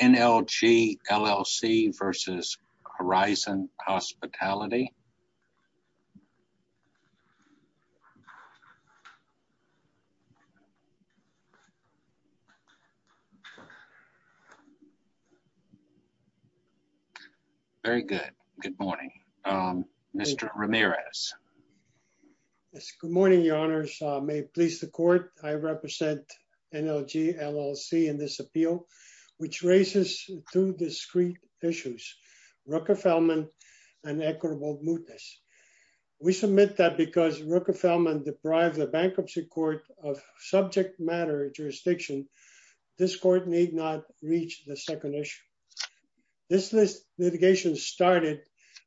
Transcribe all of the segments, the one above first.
NLG, LLC v. Horizon Hospitality Very good. Good morning. Mr. Ramirez. Yes, good morning, Your Honors. May it please the court, I represent NLG, LLC in this appeal, which raises two discrete issues, Rockefellman and equitable mootness. We submit that because Rockefellman deprived the bankruptcy court of subject matter jurisdiction, this court need not reach the second issue. This litigation started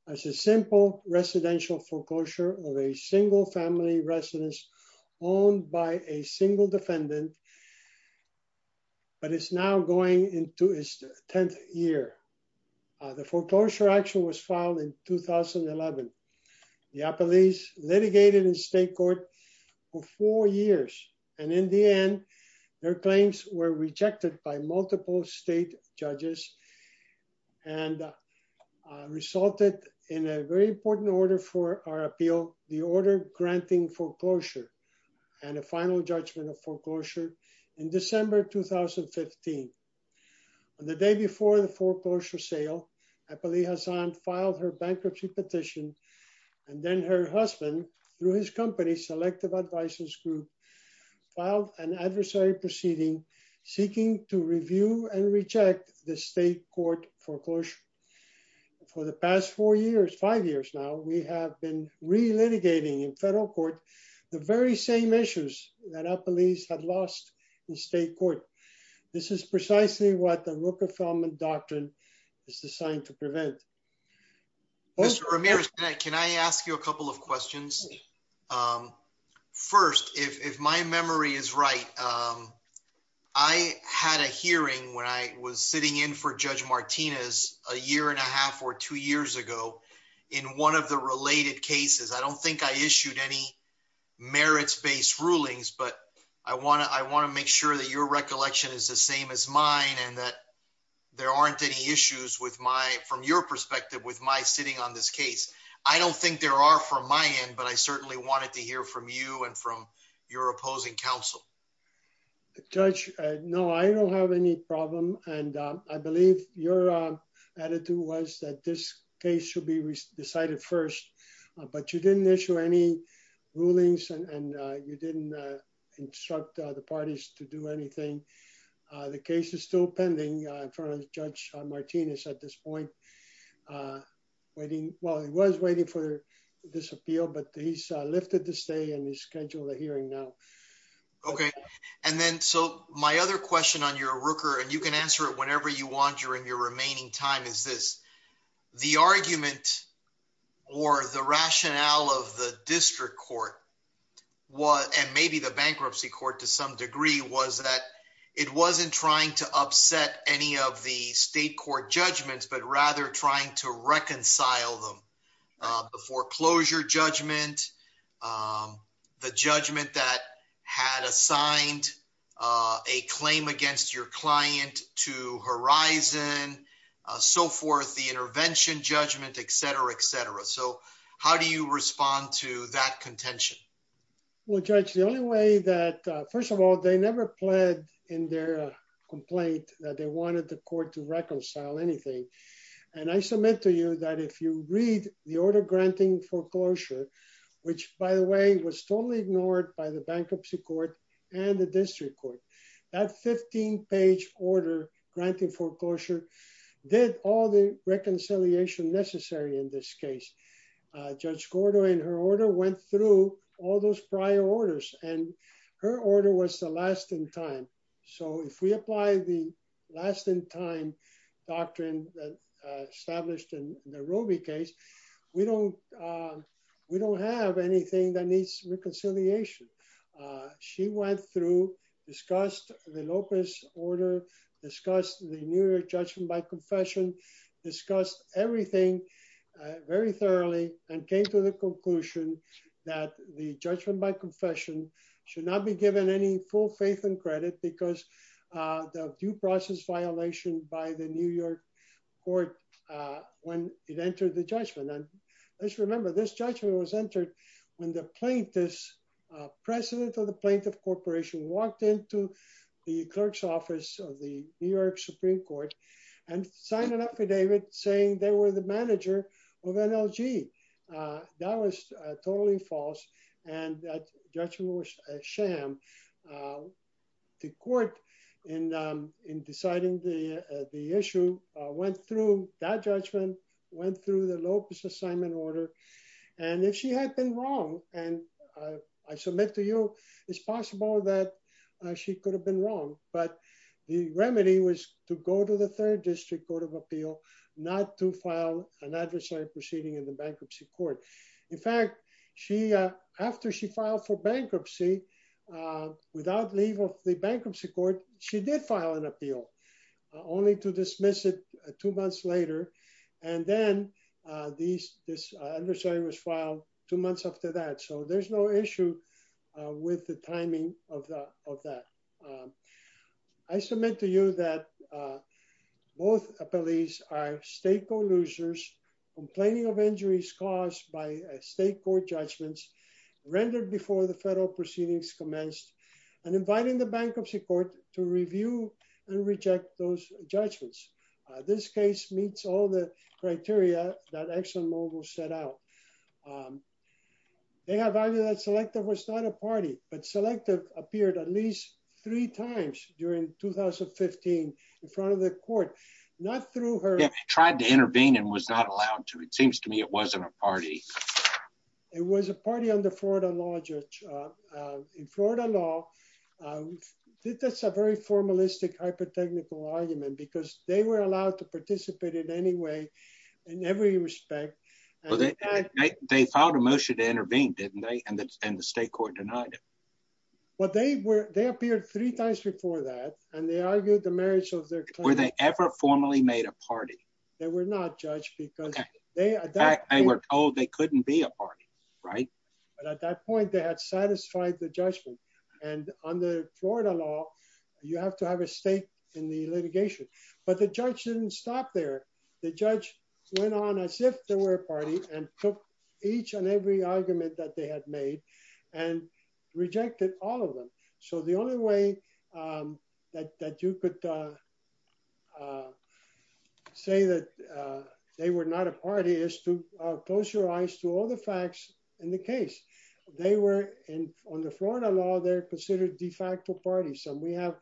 as a simple residential foreclosure of a single family residence owned by a single defendant. But it's now going into its 10th year. The foreclosure action was filed in 2011. The appellees litigated in state court for four years. And in the end, their claims were rejected by multiple state judges and resulted in a very important order for our appeal, the order granting foreclosure and a final judgment of foreclosure in December 2015. On the day before the foreclosure sale, appellee Hassan filed her bankruptcy petition. And then her husband, through his company, Selective Advices Group, filed an adversary proceeding seeking to review and reject the state court foreclosure. For the past four years, five years now, we have been re-litigating in federal court the very same issues that appellees had lost in state court. This is precisely what the Rook Affirmative Doctrine is designed to prevent. Mr. Ramirez, can I ask you a couple of questions? First, if my memory is right, I had a hearing when I was sitting in for Judge Martinez a year and a half or two years ago. In one of the related cases, I don't think I issued any merits-based rulings, but I want to make sure that your recollection is the same as mine and that there aren't any issues from your perspective with my sitting on this case. I don't think there are from my end, but I certainly wanted to hear from you and from your opposing counsel. Judge, no, I don't have any problem. And I believe your attitude was that this case should be decided first, but you didn't issue any rulings and you didn't instruct the parties to do anything. The case is still pending in front of Judge Martinez at this point. Well, he was waiting for this appeal, but he's lifted the stay and he's scheduled a hearing now. Okay, and then so my other question on your Rooker, and you can answer it whenever you want during your remaining time is this. The argument or the rationale of the district court was, and maybe the bankruptcy court to some degree, was that it wasn't trying to upset any of the state court judgments, but rather trying to reconcile them. The foreclosure judgment, the judgment that had assigned a claim against your client to Horizon, so forth, the intervention judgment, et cetera, et cetera. So how do you respond to that contention? Well, Judge, the only way that, first of all, they never pled in their complaint that they wanted the court to reconcile anything. And I submit to you that if you read the order granting foreclosure, which, by the way, was totally ignored by the bankruptcy court and the district court, that 15-page order granting foreclosure did all the reconciliation necessary in this case. Judge Gordo, in her order, went through all those prior orders, and her order was the last in time. So if we apply the last in time doctrine established in the Roby case, we don't have anything that needs reconciliation. She went through, discussed the Lopez order, discussed the New York judgment by confession, discussed everything very thoroughly, and came to the conclusion that the judgment by confession should not be given any full faith and credit because of due process violation by the New York court when it entered the judgment. And let's remember, this judgment was entered when the plaintiff's, president of the plaintiff corporation, walked into the clerk's office of the New York Supreme Court and signed an affidavit saying they were the manager of NLG. That was totally false, and that judgment was a sham. The court, in deciding the issue, went through that judgment, went through the Lopez assignment order, and if she had been wrong, and I submit to you, it's possible that she could have been wrong, but the remedy was to go to the third district court of appeal, not to file an adversary proceeding in the bankruptcy court. In fact, after she filed for bankruptcy, without leave of the bankruptcy court, she did file an appeal, only to dismiss it two months later, and then this adversary was filed two months after that. So there's no issue with the timing of that. I submit to you that both appellees are state court losers, complaining of injuries caused by state court judgments rendered before the federal proceedings commenced, and inviting the bankruptcy court to review and reject those judgments. This case meets all the criteria that ExxonMobil set out. They have argued that Selective was not a party, but Selective appeared at least three times during 2015 in front of the court, not through her. Yeah, tried to intervene and was not allowed to. It seems to me it wasn't a party. It was a party under Florida law, Judge. In Florida law, that's a very formalistic, hyper-technical argument, because they were allowed to participate in any way, in every respect. They filed a motion to intervene, didn't they? And the state court denied it. They appeared three times before that, and they argued the merits of their claim. Were they ever formally made a party? They were not, Judge. In fact, they were told they couldn't be a party, right? At that point, they had satisfied the judgment, and under Florida law, you have to have a stake in the litigation. But the judge didn't stop there. The judge went on as if they were a party and took each and every argument that they had made and rejected all of them. So the only way that you could say that they were not a party is to close your eyes to all the facts in the case. On the Florida law, they're considered de facto parties, and we have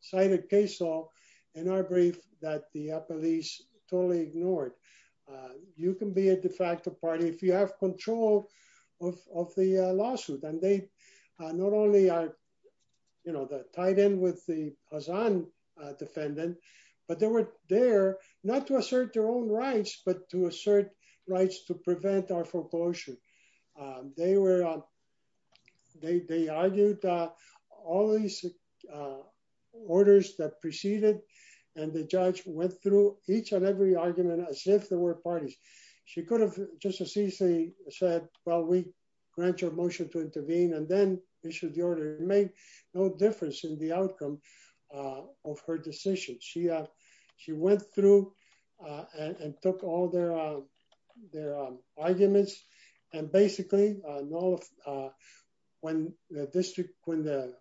cited case law in our brief that the police totally ignored. You can be a de facto party if you have control of the lawsuit. And they not only are tied in with the Hazan defendant, but they were there not to assert their own rights, but to assert rights to prevent our foreclosure. They argued all these orders that preceded, and the judge went through each and every argument as if they were parties. She could have just as easily said, well, we grant your motion to intervene, and then issued the order. It made no difference in the outcome of her decision. She went through and took all their arguments, and basically, when the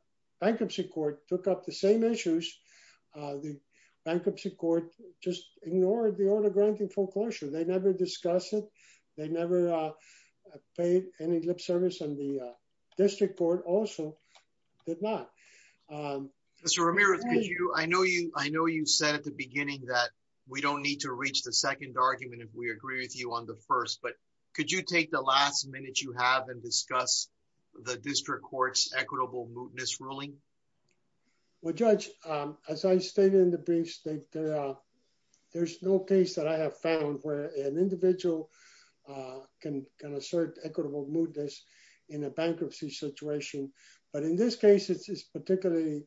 bankruptcy court took up the same issues, the bankruptcy court just ignored the order granting foreclosure. They never discussed it. They never paid any lip service, and the district court also did not. Mr. Ramirez, I know you said at the beginning that we don't need to reach the second argument if we agree with you on the first, but could you take the last minute you have and discuss the district court's equitable mootness ruling? Well, Judge, as I stated in the briefs, there's no case that I have found where an individual can assert equitable mootness in a bankruptcy situation. But in this case, it's particularly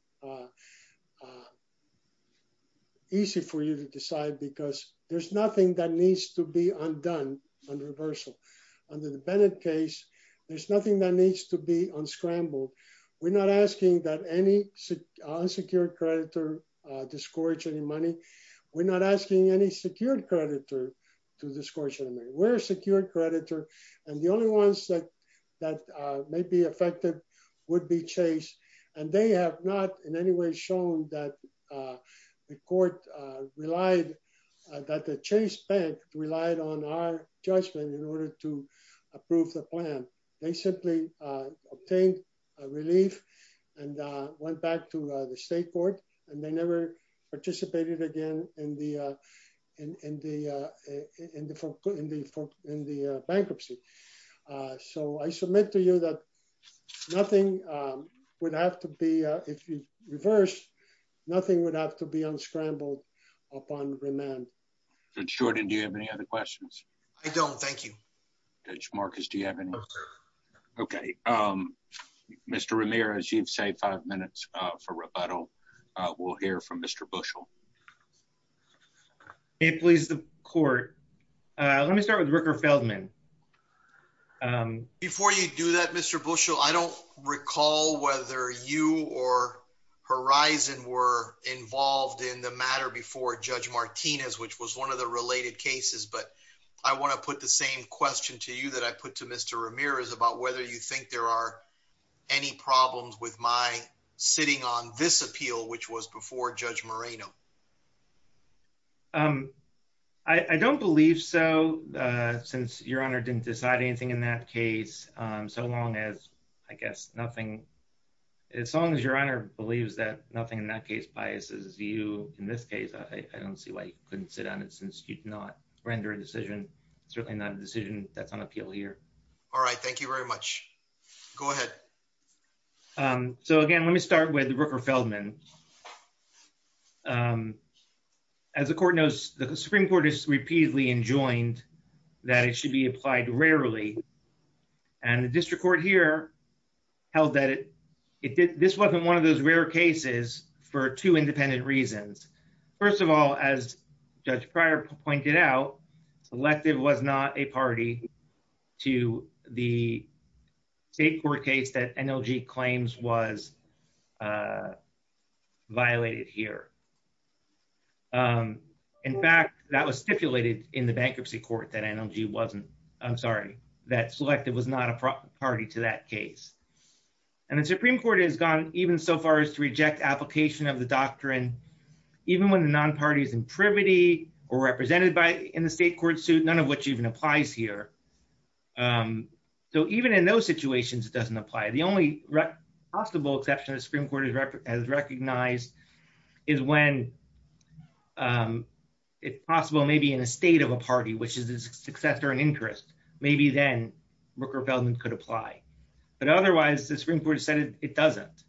easy for you to decide because there's nothing that needs to be undone on reversal. Under the Bennett case, there's nothing that needs to be unscrambled. We're not asking that any unsecured creditor discourage any money. We're not asking any secured creditor to discourage any money. We're a secured creditor, and the only ones that may be affected would be Chase, and they have not in any way shown that the court relied, that the Chase Bank relied on our judgment in order to approve the plan. They simply obtained relief and went back to the state court, and they never participated again in the bankruptcy. So I submit to you that nothing would have to be, if you reverse, nothing would have to be unscrambled upon remand. Judge Jordan, do you have any other questions? I don't, thank you. Judge Marcus, do you have any? Okay. Mr. Ramirez, you've saved five minutes for rebuttal. We'll hear from Mr. Bushell. Please, the court. Let me start with Ricker Feldman. Before you do that, Mr. Bushell, I don't recall whether you or Horizon were involved in the matter before Judge Martinez, which was one of the related cases, but I want to put the same question to you that I put to Mr. Ramirez about whether you think there are any problems with my sitting on this appeal, which was before Judge Moreno. I don't believe so, since Your Honor didn't decide anything in that case. So long as, I guess, nothing, as long as Your Honor believes that nothing in that case biases you in this case, I don't see why you couldn't sit on it since you did not render a decision, certainly not a decision that's on appeal here. All right. Thank you very much. Go ahead. So again, let me start with Rooker Feldman. As the court knows, the Supreme Court has repeatedly enjoined that it should be applied rarely. And the district court here held that this wasn't one of those rare cases for two independent reasons. First of all, as Judge Pryor pointed out, selective was not a party to the state court case that NLG claims was violated here. In fact, that was stipulated in the bankruptcy court that NLG wasn't, I'm sorry, that selective was not a party to that case. And the Supreme Court has gone even so far as to reject application of the doctrine, even when the non-party is in privity or represented by in the state court suit, none of which even applies here. So even in those situations, it doesn't apply. The only possible exception the Supreme Court has recognized is when it's possible maybe in a state of a party, which is a success or an interest, maybe then Rooker Feldman could apply. But otherwise, the Supreme Court has said it doesn't.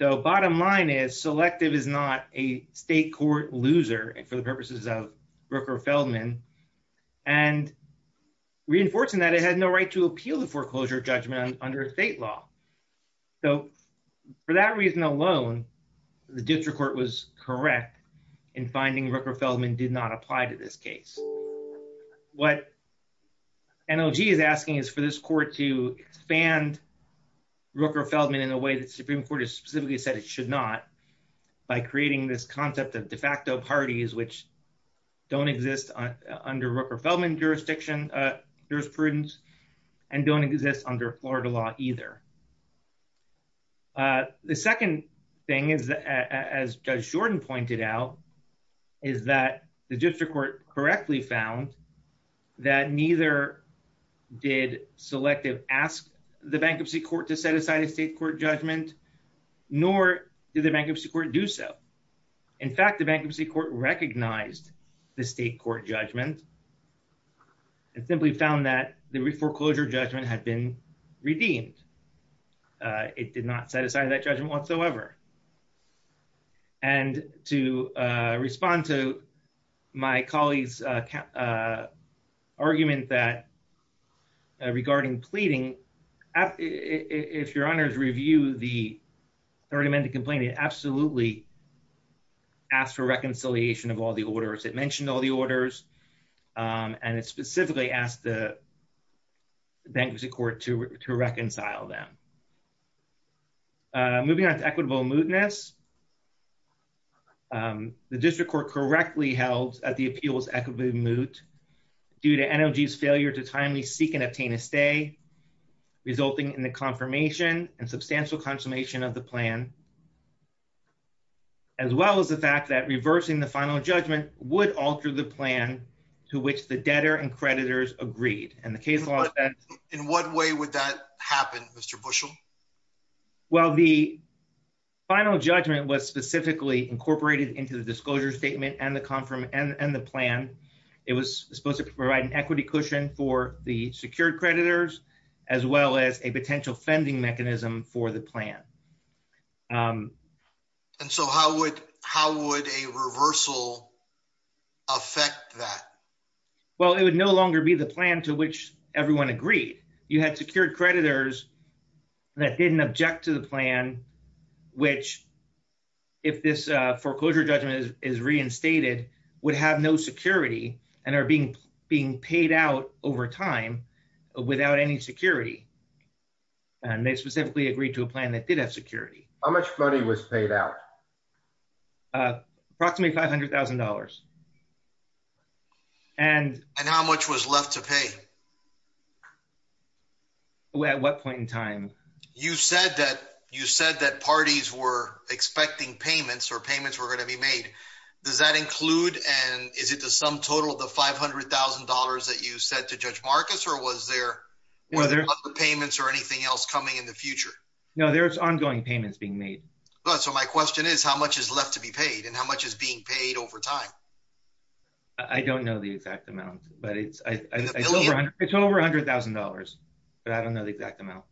So bottom line is selective is not a state court loser for the purposes of Rooker Feldman. And reinforcing that it had no right to appeal the foreclosure judgment under state law. So for that reason alone, the district court was correct in finding Rooker Feldman did not apply to this case. What NLG is asking is for this court to expand Rooker Feldman in a way that the Supreme Court has specifically said it should not by creating this concept of de facto parties, which don't exist under Rooker Feldman jurisprudence and don't exist under Florida law either. The second thing is, as Judge Jordan pointed out, is that the district court correctly found that neither did selective ask the bankruptcy court to set aside a state court judgment, nor did the bankruptcy court do so. In fact, the bankruptcy court recognized the state court judgment and simply found that the foreclosure judgment had been redeemed. It did not set aside that judgment whatsoever. And to respond to my colleague's argument that regarding pleading, if your honors review the third amendment complaint, it absolutely asked for reconciliation of all the orders. It mentioned all the orders, and it specifically asked the bankruptcy court to reconcile them. Moving on to equitable mootness. The district court correctly held that the appeal was equitably moot due to NLG's failure to timely seek and obtain a stay, resulting in the confirmation and substantial consummation of the plan, as well as the fact that reversing the final judgment would alter the plan to which the debtor and creditors agreed. In what way would that happen, Mr. Bushel? Well, the final judgment was specifically incorporated into the disclosure statement and the plan. It was supposed to provide an equity cushion for the secured creditors, as well as a potential fending mechanism for the plan. And so how would a reversal affect that? Well, it would no longer be the plan to which everyone agreed. You had secured creditors that didn't object to the plan, which, if this foreclosure judgment is reinstated, would have no security and are being paid out over time without any security. And they specifically agreed to a plan that did have security. How much money was paid out? Approximately $500,000. And how much was left to pay? At what point in time? You said that parties were expecting payments or payments were going to be made. Does that include and is it the sum total of the $500,000 that you said to Judge Marcus or was there other payments or anything else coming in the future? No, there's ongoing payments being made. So my question is, how much is left to be paid and how much is being paid over time? I don't know the exact amount, but it's over $100,000. But I don't know the exact amount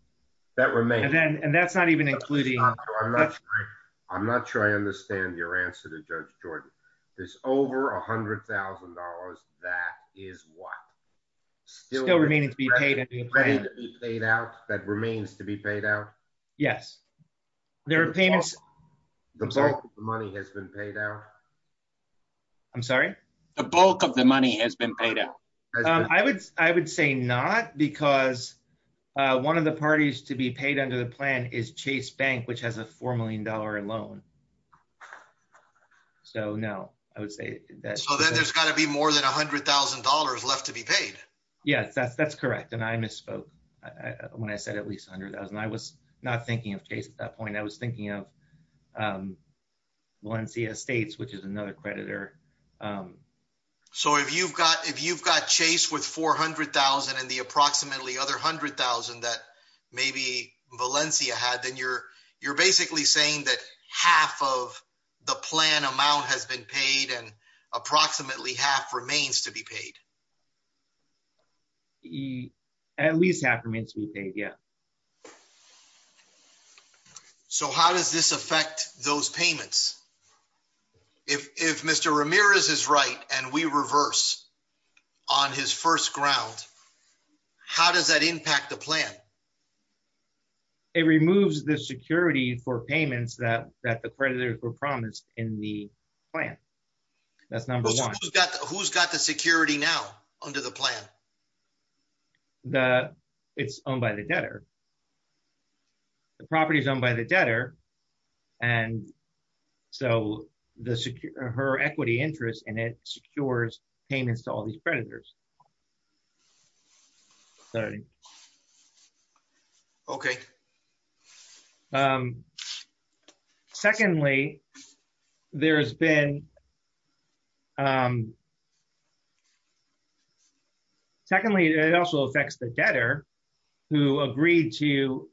that remains. And that's not even including. I'm not sure I understand your answer to Judge Jordan. There's over $100,000. That is what still remaining to be paid. Paid out. That remains to be paid out. Yes, there are payments. The bulk of the money has been paid out. I'm sorry. The bulk of the money has been paid out. I would I would say not because one of the parties to be paid under the plan is Chase Bank, which has a $4 million loan. So no, I would say that. So then there's got to be more than $100,000 left to be paid. Yes, that's that's correct. And I misspoke when I said at least $100,000. I was not thinking of Chase at that point. I was thinking of Valencia Estates, which is another creditor. So if you've got if you've got Chase with $400,000 and the approximately other $100,000 that maybe Valencia had, then you're you're basically saying that half of the plan amount has been paid and approximately half remains to be paid. At least half remains to be paid. Yeah. So how does this affect those payments? If Mr. Ramirez is right and we reverse on his first ground, how does that impact the plan? It removes the security for payments that that the creditors were promised in the plan. That's number one. Who's got the security now under the plan? That it's owned by the debtor. The property is owned by the debtor. And so the her equity interest in it secures payments to all these creditors. Sorry. OK. Secondly, there has been. Secondly, it also affects the debtor who agreed to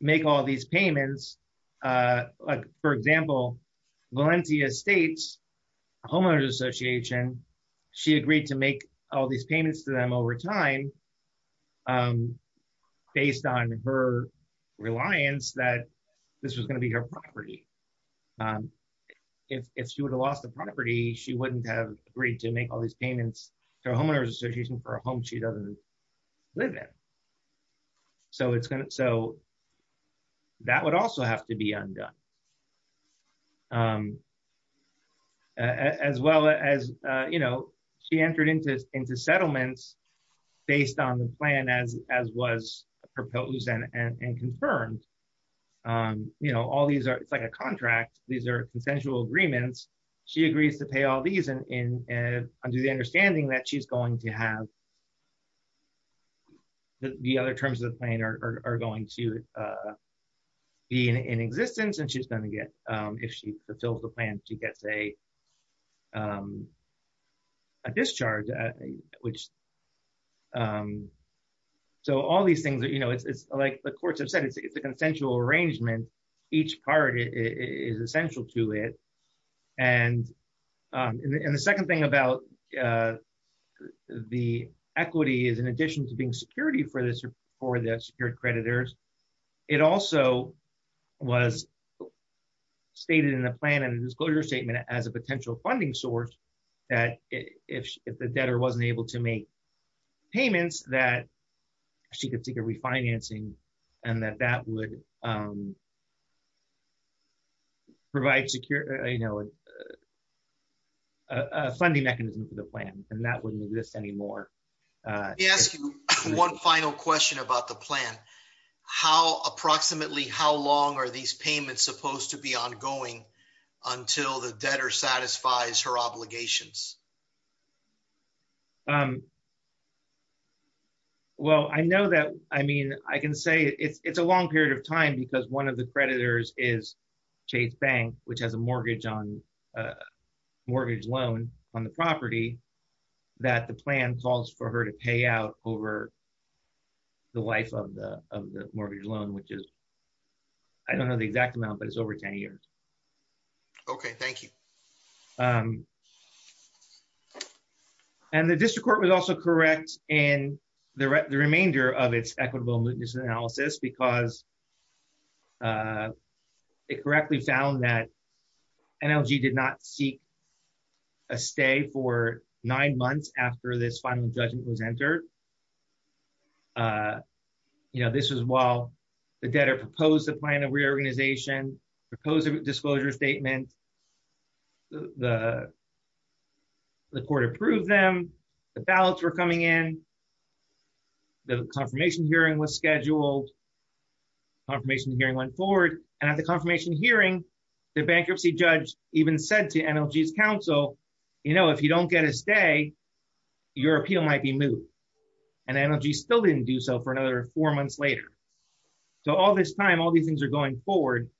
make all these payments, for example, Valencia Estates Homeowners Association. She agreed to make all these payments to them over time based on her reliance that this was going to be her property. If she would have lost the property, she wouldn't have agreed to make all these payments to Homeowners Association for a home she doesn't live in. So it's going to so. That would also have to be undone. As well as, you know, she entered into into settlements based on the plan, as as was proposed and confirmed. You know, all these are it's like a contract. These are consensual agreements. She agrees to pay all these and do the understanding that she's going to have. The other terms of the plan are going to be in existence and she's going to get if she fulfills the plan, she gets a. A discharge, which. So all these things that, you know, it's like the courts have said it's a consensual arrangement. Each part is essential to it. And the second thing about the equity is, in addition to being security for this or for the secured creditors, it also was. Stated in the plan and disclosure statement as a potential funding source that if the debtor wasn't able to make payments that she could take a refinancing and that that would. Provide secure, you know. A funding mechanism for the plan and that wouldn't exist anymore. Yes. One final question about the plan. How approximately how long are these payments supposed to be ongoing until the debtor satisfies her obligations. Um, well, I know that. I mean, I can say it's a long period of time because one of the creditors is Chase Bank, which has a mortgage on mortgage loan on the property that the plan calls for her to pay out over the life of the mortgage loan, which is, I don't know the exact amount but it's over 10 years. Okay, thank you. And the district court was also correct in the remainder of its equitable mootness analysis because it correctly found that NLG did not seek a stay for nine months after this final judgment was entered. Uh, you know, this is while the debtor proposed a plan of reorganization proposal disclosure statement. The The court approved them. The ballots were coming in. The confirmation hearing was scheduled. Confirmation hearing went forward, and at the confirmation hearing the bankruptcy judge even said to NLG's counsel, you know, if you don't get a stay, your appeal might be moved and NLG still didn't do so for another four months later. So all this time all these things are going forward.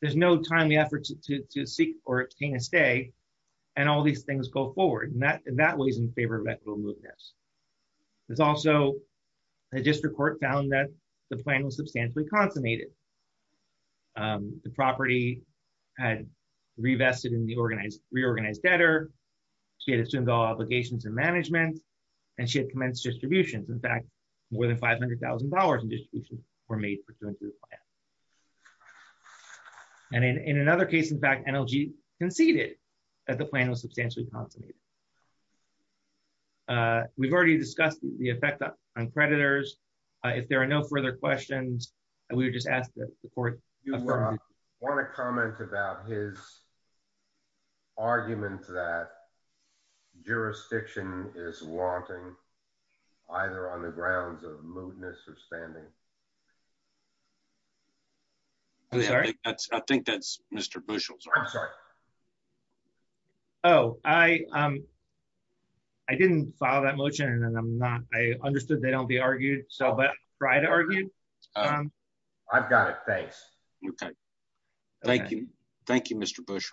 There's no timely efforts to seek or obtain a stay and all these things go forward and that that was in favor of equitable mootness. There's also a district court found that the plan was substantially consummated. The property had revested in the reorganized debtor, she had assumed all obligations and management, and she had commenced distributions. In fact, more than $500,000 in distributions were made pursuant to the plan. And in another case, in fact, NLG conceded that the plan was substantially consummated. We've already discussed the effect on creditors. If there are no further questions, we would just ask that the court. Want to comment about his Arguments that jurisdiction is wanting either on the grounds of mootness or standing I think that's Mr bushels. I'm sorry. Oh, I I didn't follow that motion and I'm not I understood. They don't be argued. So, but try to argue. I've got it. Thanks. Okay. Thank you. Thank you, Mr. Bush.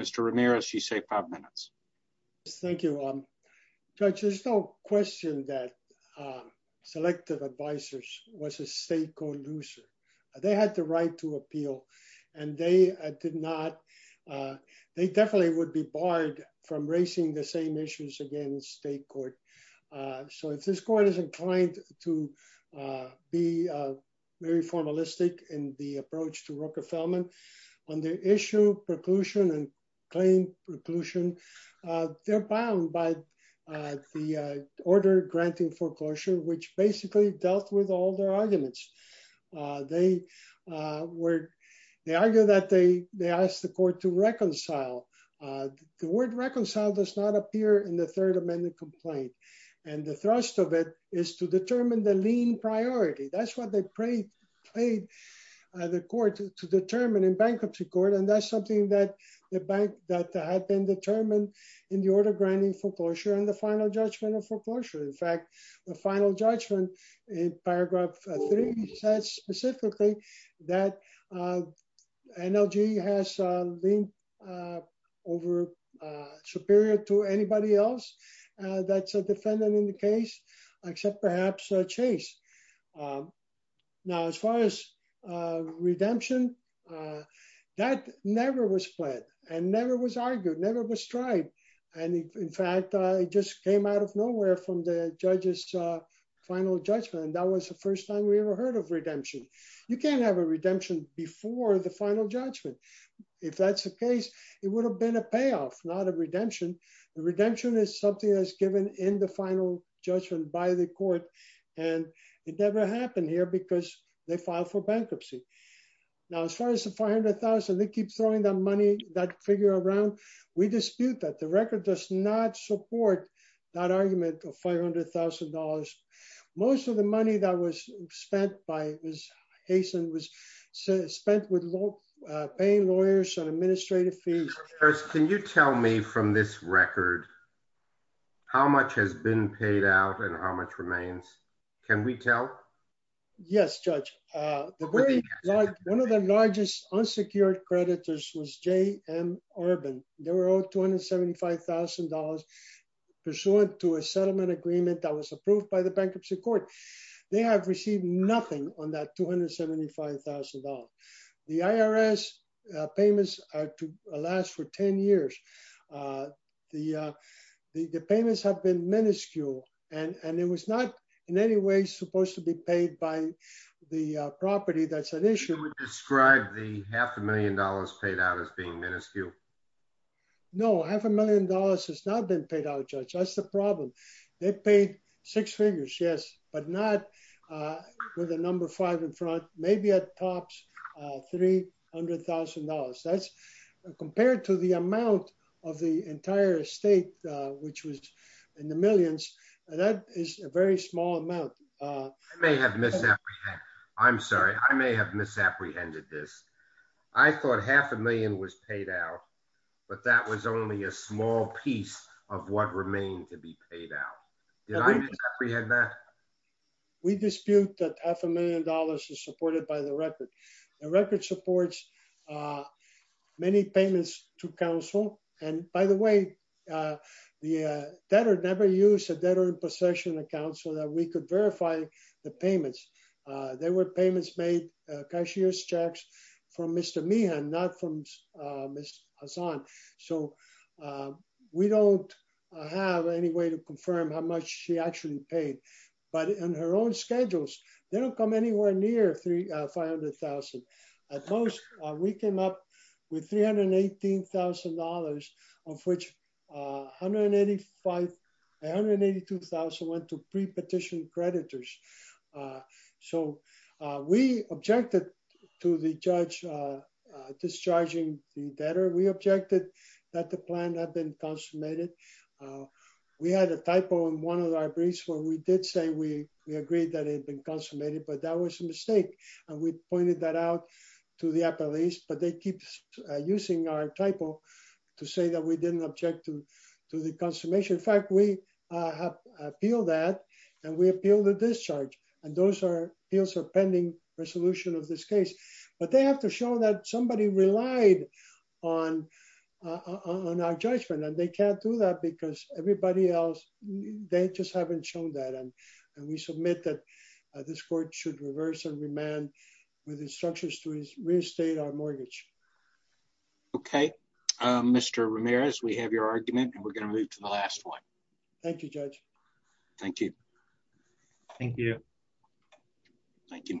Mr Ramirez you say five minutes. Thank you. I'm good. There's no question that Selective advisors was a stake or loser. They had the right to appeal and they did not They definitely would be barred from racing the same issues again state court. So if this court is inclined to be Very formalistic in the approach to Rooker Feldman on the issue preclusion and claim preclusion, they're bound by The order granting foreclosure, which basically dealt with all their arguments, they were they argue that they they asked the court to reconcile The word reconcile does not appear in the third amendment complaint and the thrust of it is to determine the lean priority. That's what they prayed paid The court to determine in bankruptcy court. And that's something that the bank that had been determined in the order granting foreclosure and the final judgment of foreclosure. In fact, the final judgment in paragraph three says specifically that Energy has been Over superior to anybody else that's a defendant in the case, except perhaps chase Now as far as redemption. That never was split and never was argued never was tried. And in fact, I just came out of nowhere from the judges. Final judgment. And that was the first time we ever heard of redemption. You can't have a redemption before the final judgment. If that's the case, it would have been a payoff, not a redemption. The redemption is something that's given in the final judgment by the court. And it never happened here because they filed for bankruptcy. Now, as far as the 500,000 they keep throwing the money that figure around we dispute that the record does not support that argument of $500,000 most of the money that was spent by his hasten was spent with low paying lawyers and administrative fees. Can you tell me from this record. How much has been paid out and how much remains. Can we tell Yes, Judge. One of the largest unsecured creditors was J and urban, they were all $275,000 pursuant to a settlement agreement that was approved by the bankruptcy court. They have received nothing on that $275,000 the IRS payments are to last for 10 years. The, the payments have been minuscule and and it was not in any way supposed to be paid by the property that's an issue. Describe the half a million dollars paid out as being minuscule. No, half a million dollars has not been paid out, Judge. That's the problem. They paid six figures. Yes, but not With a number five in front, maybe a tops $300,000 that's compared to the amount of the entire state, which was in the millions. And that is a very small amount. May have missed that. I'm sorry. I may have misapprehended this I thought half a million was paid out, but that was only a small piece of what remained to be paid out. We had that we dispute that half a million dollars is supported by the record. The record supports. Many payments to counsel. And by the way, The debtor never use a debtor in possession account so that we could verify the payments. There were payments made cashier's checks from Mr me and not from Miss Hassan so We don't have any way to confirm how much she actually paid, but in her own schedules. They don't come anywhere near three 500,000 at most we came up with $318,000 of which 185 182,000 went to pre petition creditors. So we objected to the judge discharging the better we objected that the plan had been consummated We had a typo in one of our briefs where we did say we we agreed that it'd been consummated, but that was a mistake and we pointed that out. To the police, but they keep using our typo to say that we didn't object to to the consummation fact we Appeal that and we appeal the discharge and those are deals are pending resolution of this case, but they have to show that somebody relied on On our judgment and they can't do that because everybody else. They just haven't shown that and and we submit that this court should reverse and remand with instructions to his real estate or mortgage. Okay, Mr Ramirez, we have your argument and we're going to move to the last one. Thank you, Judge. Thank you. Thank you. Thank you, Mr.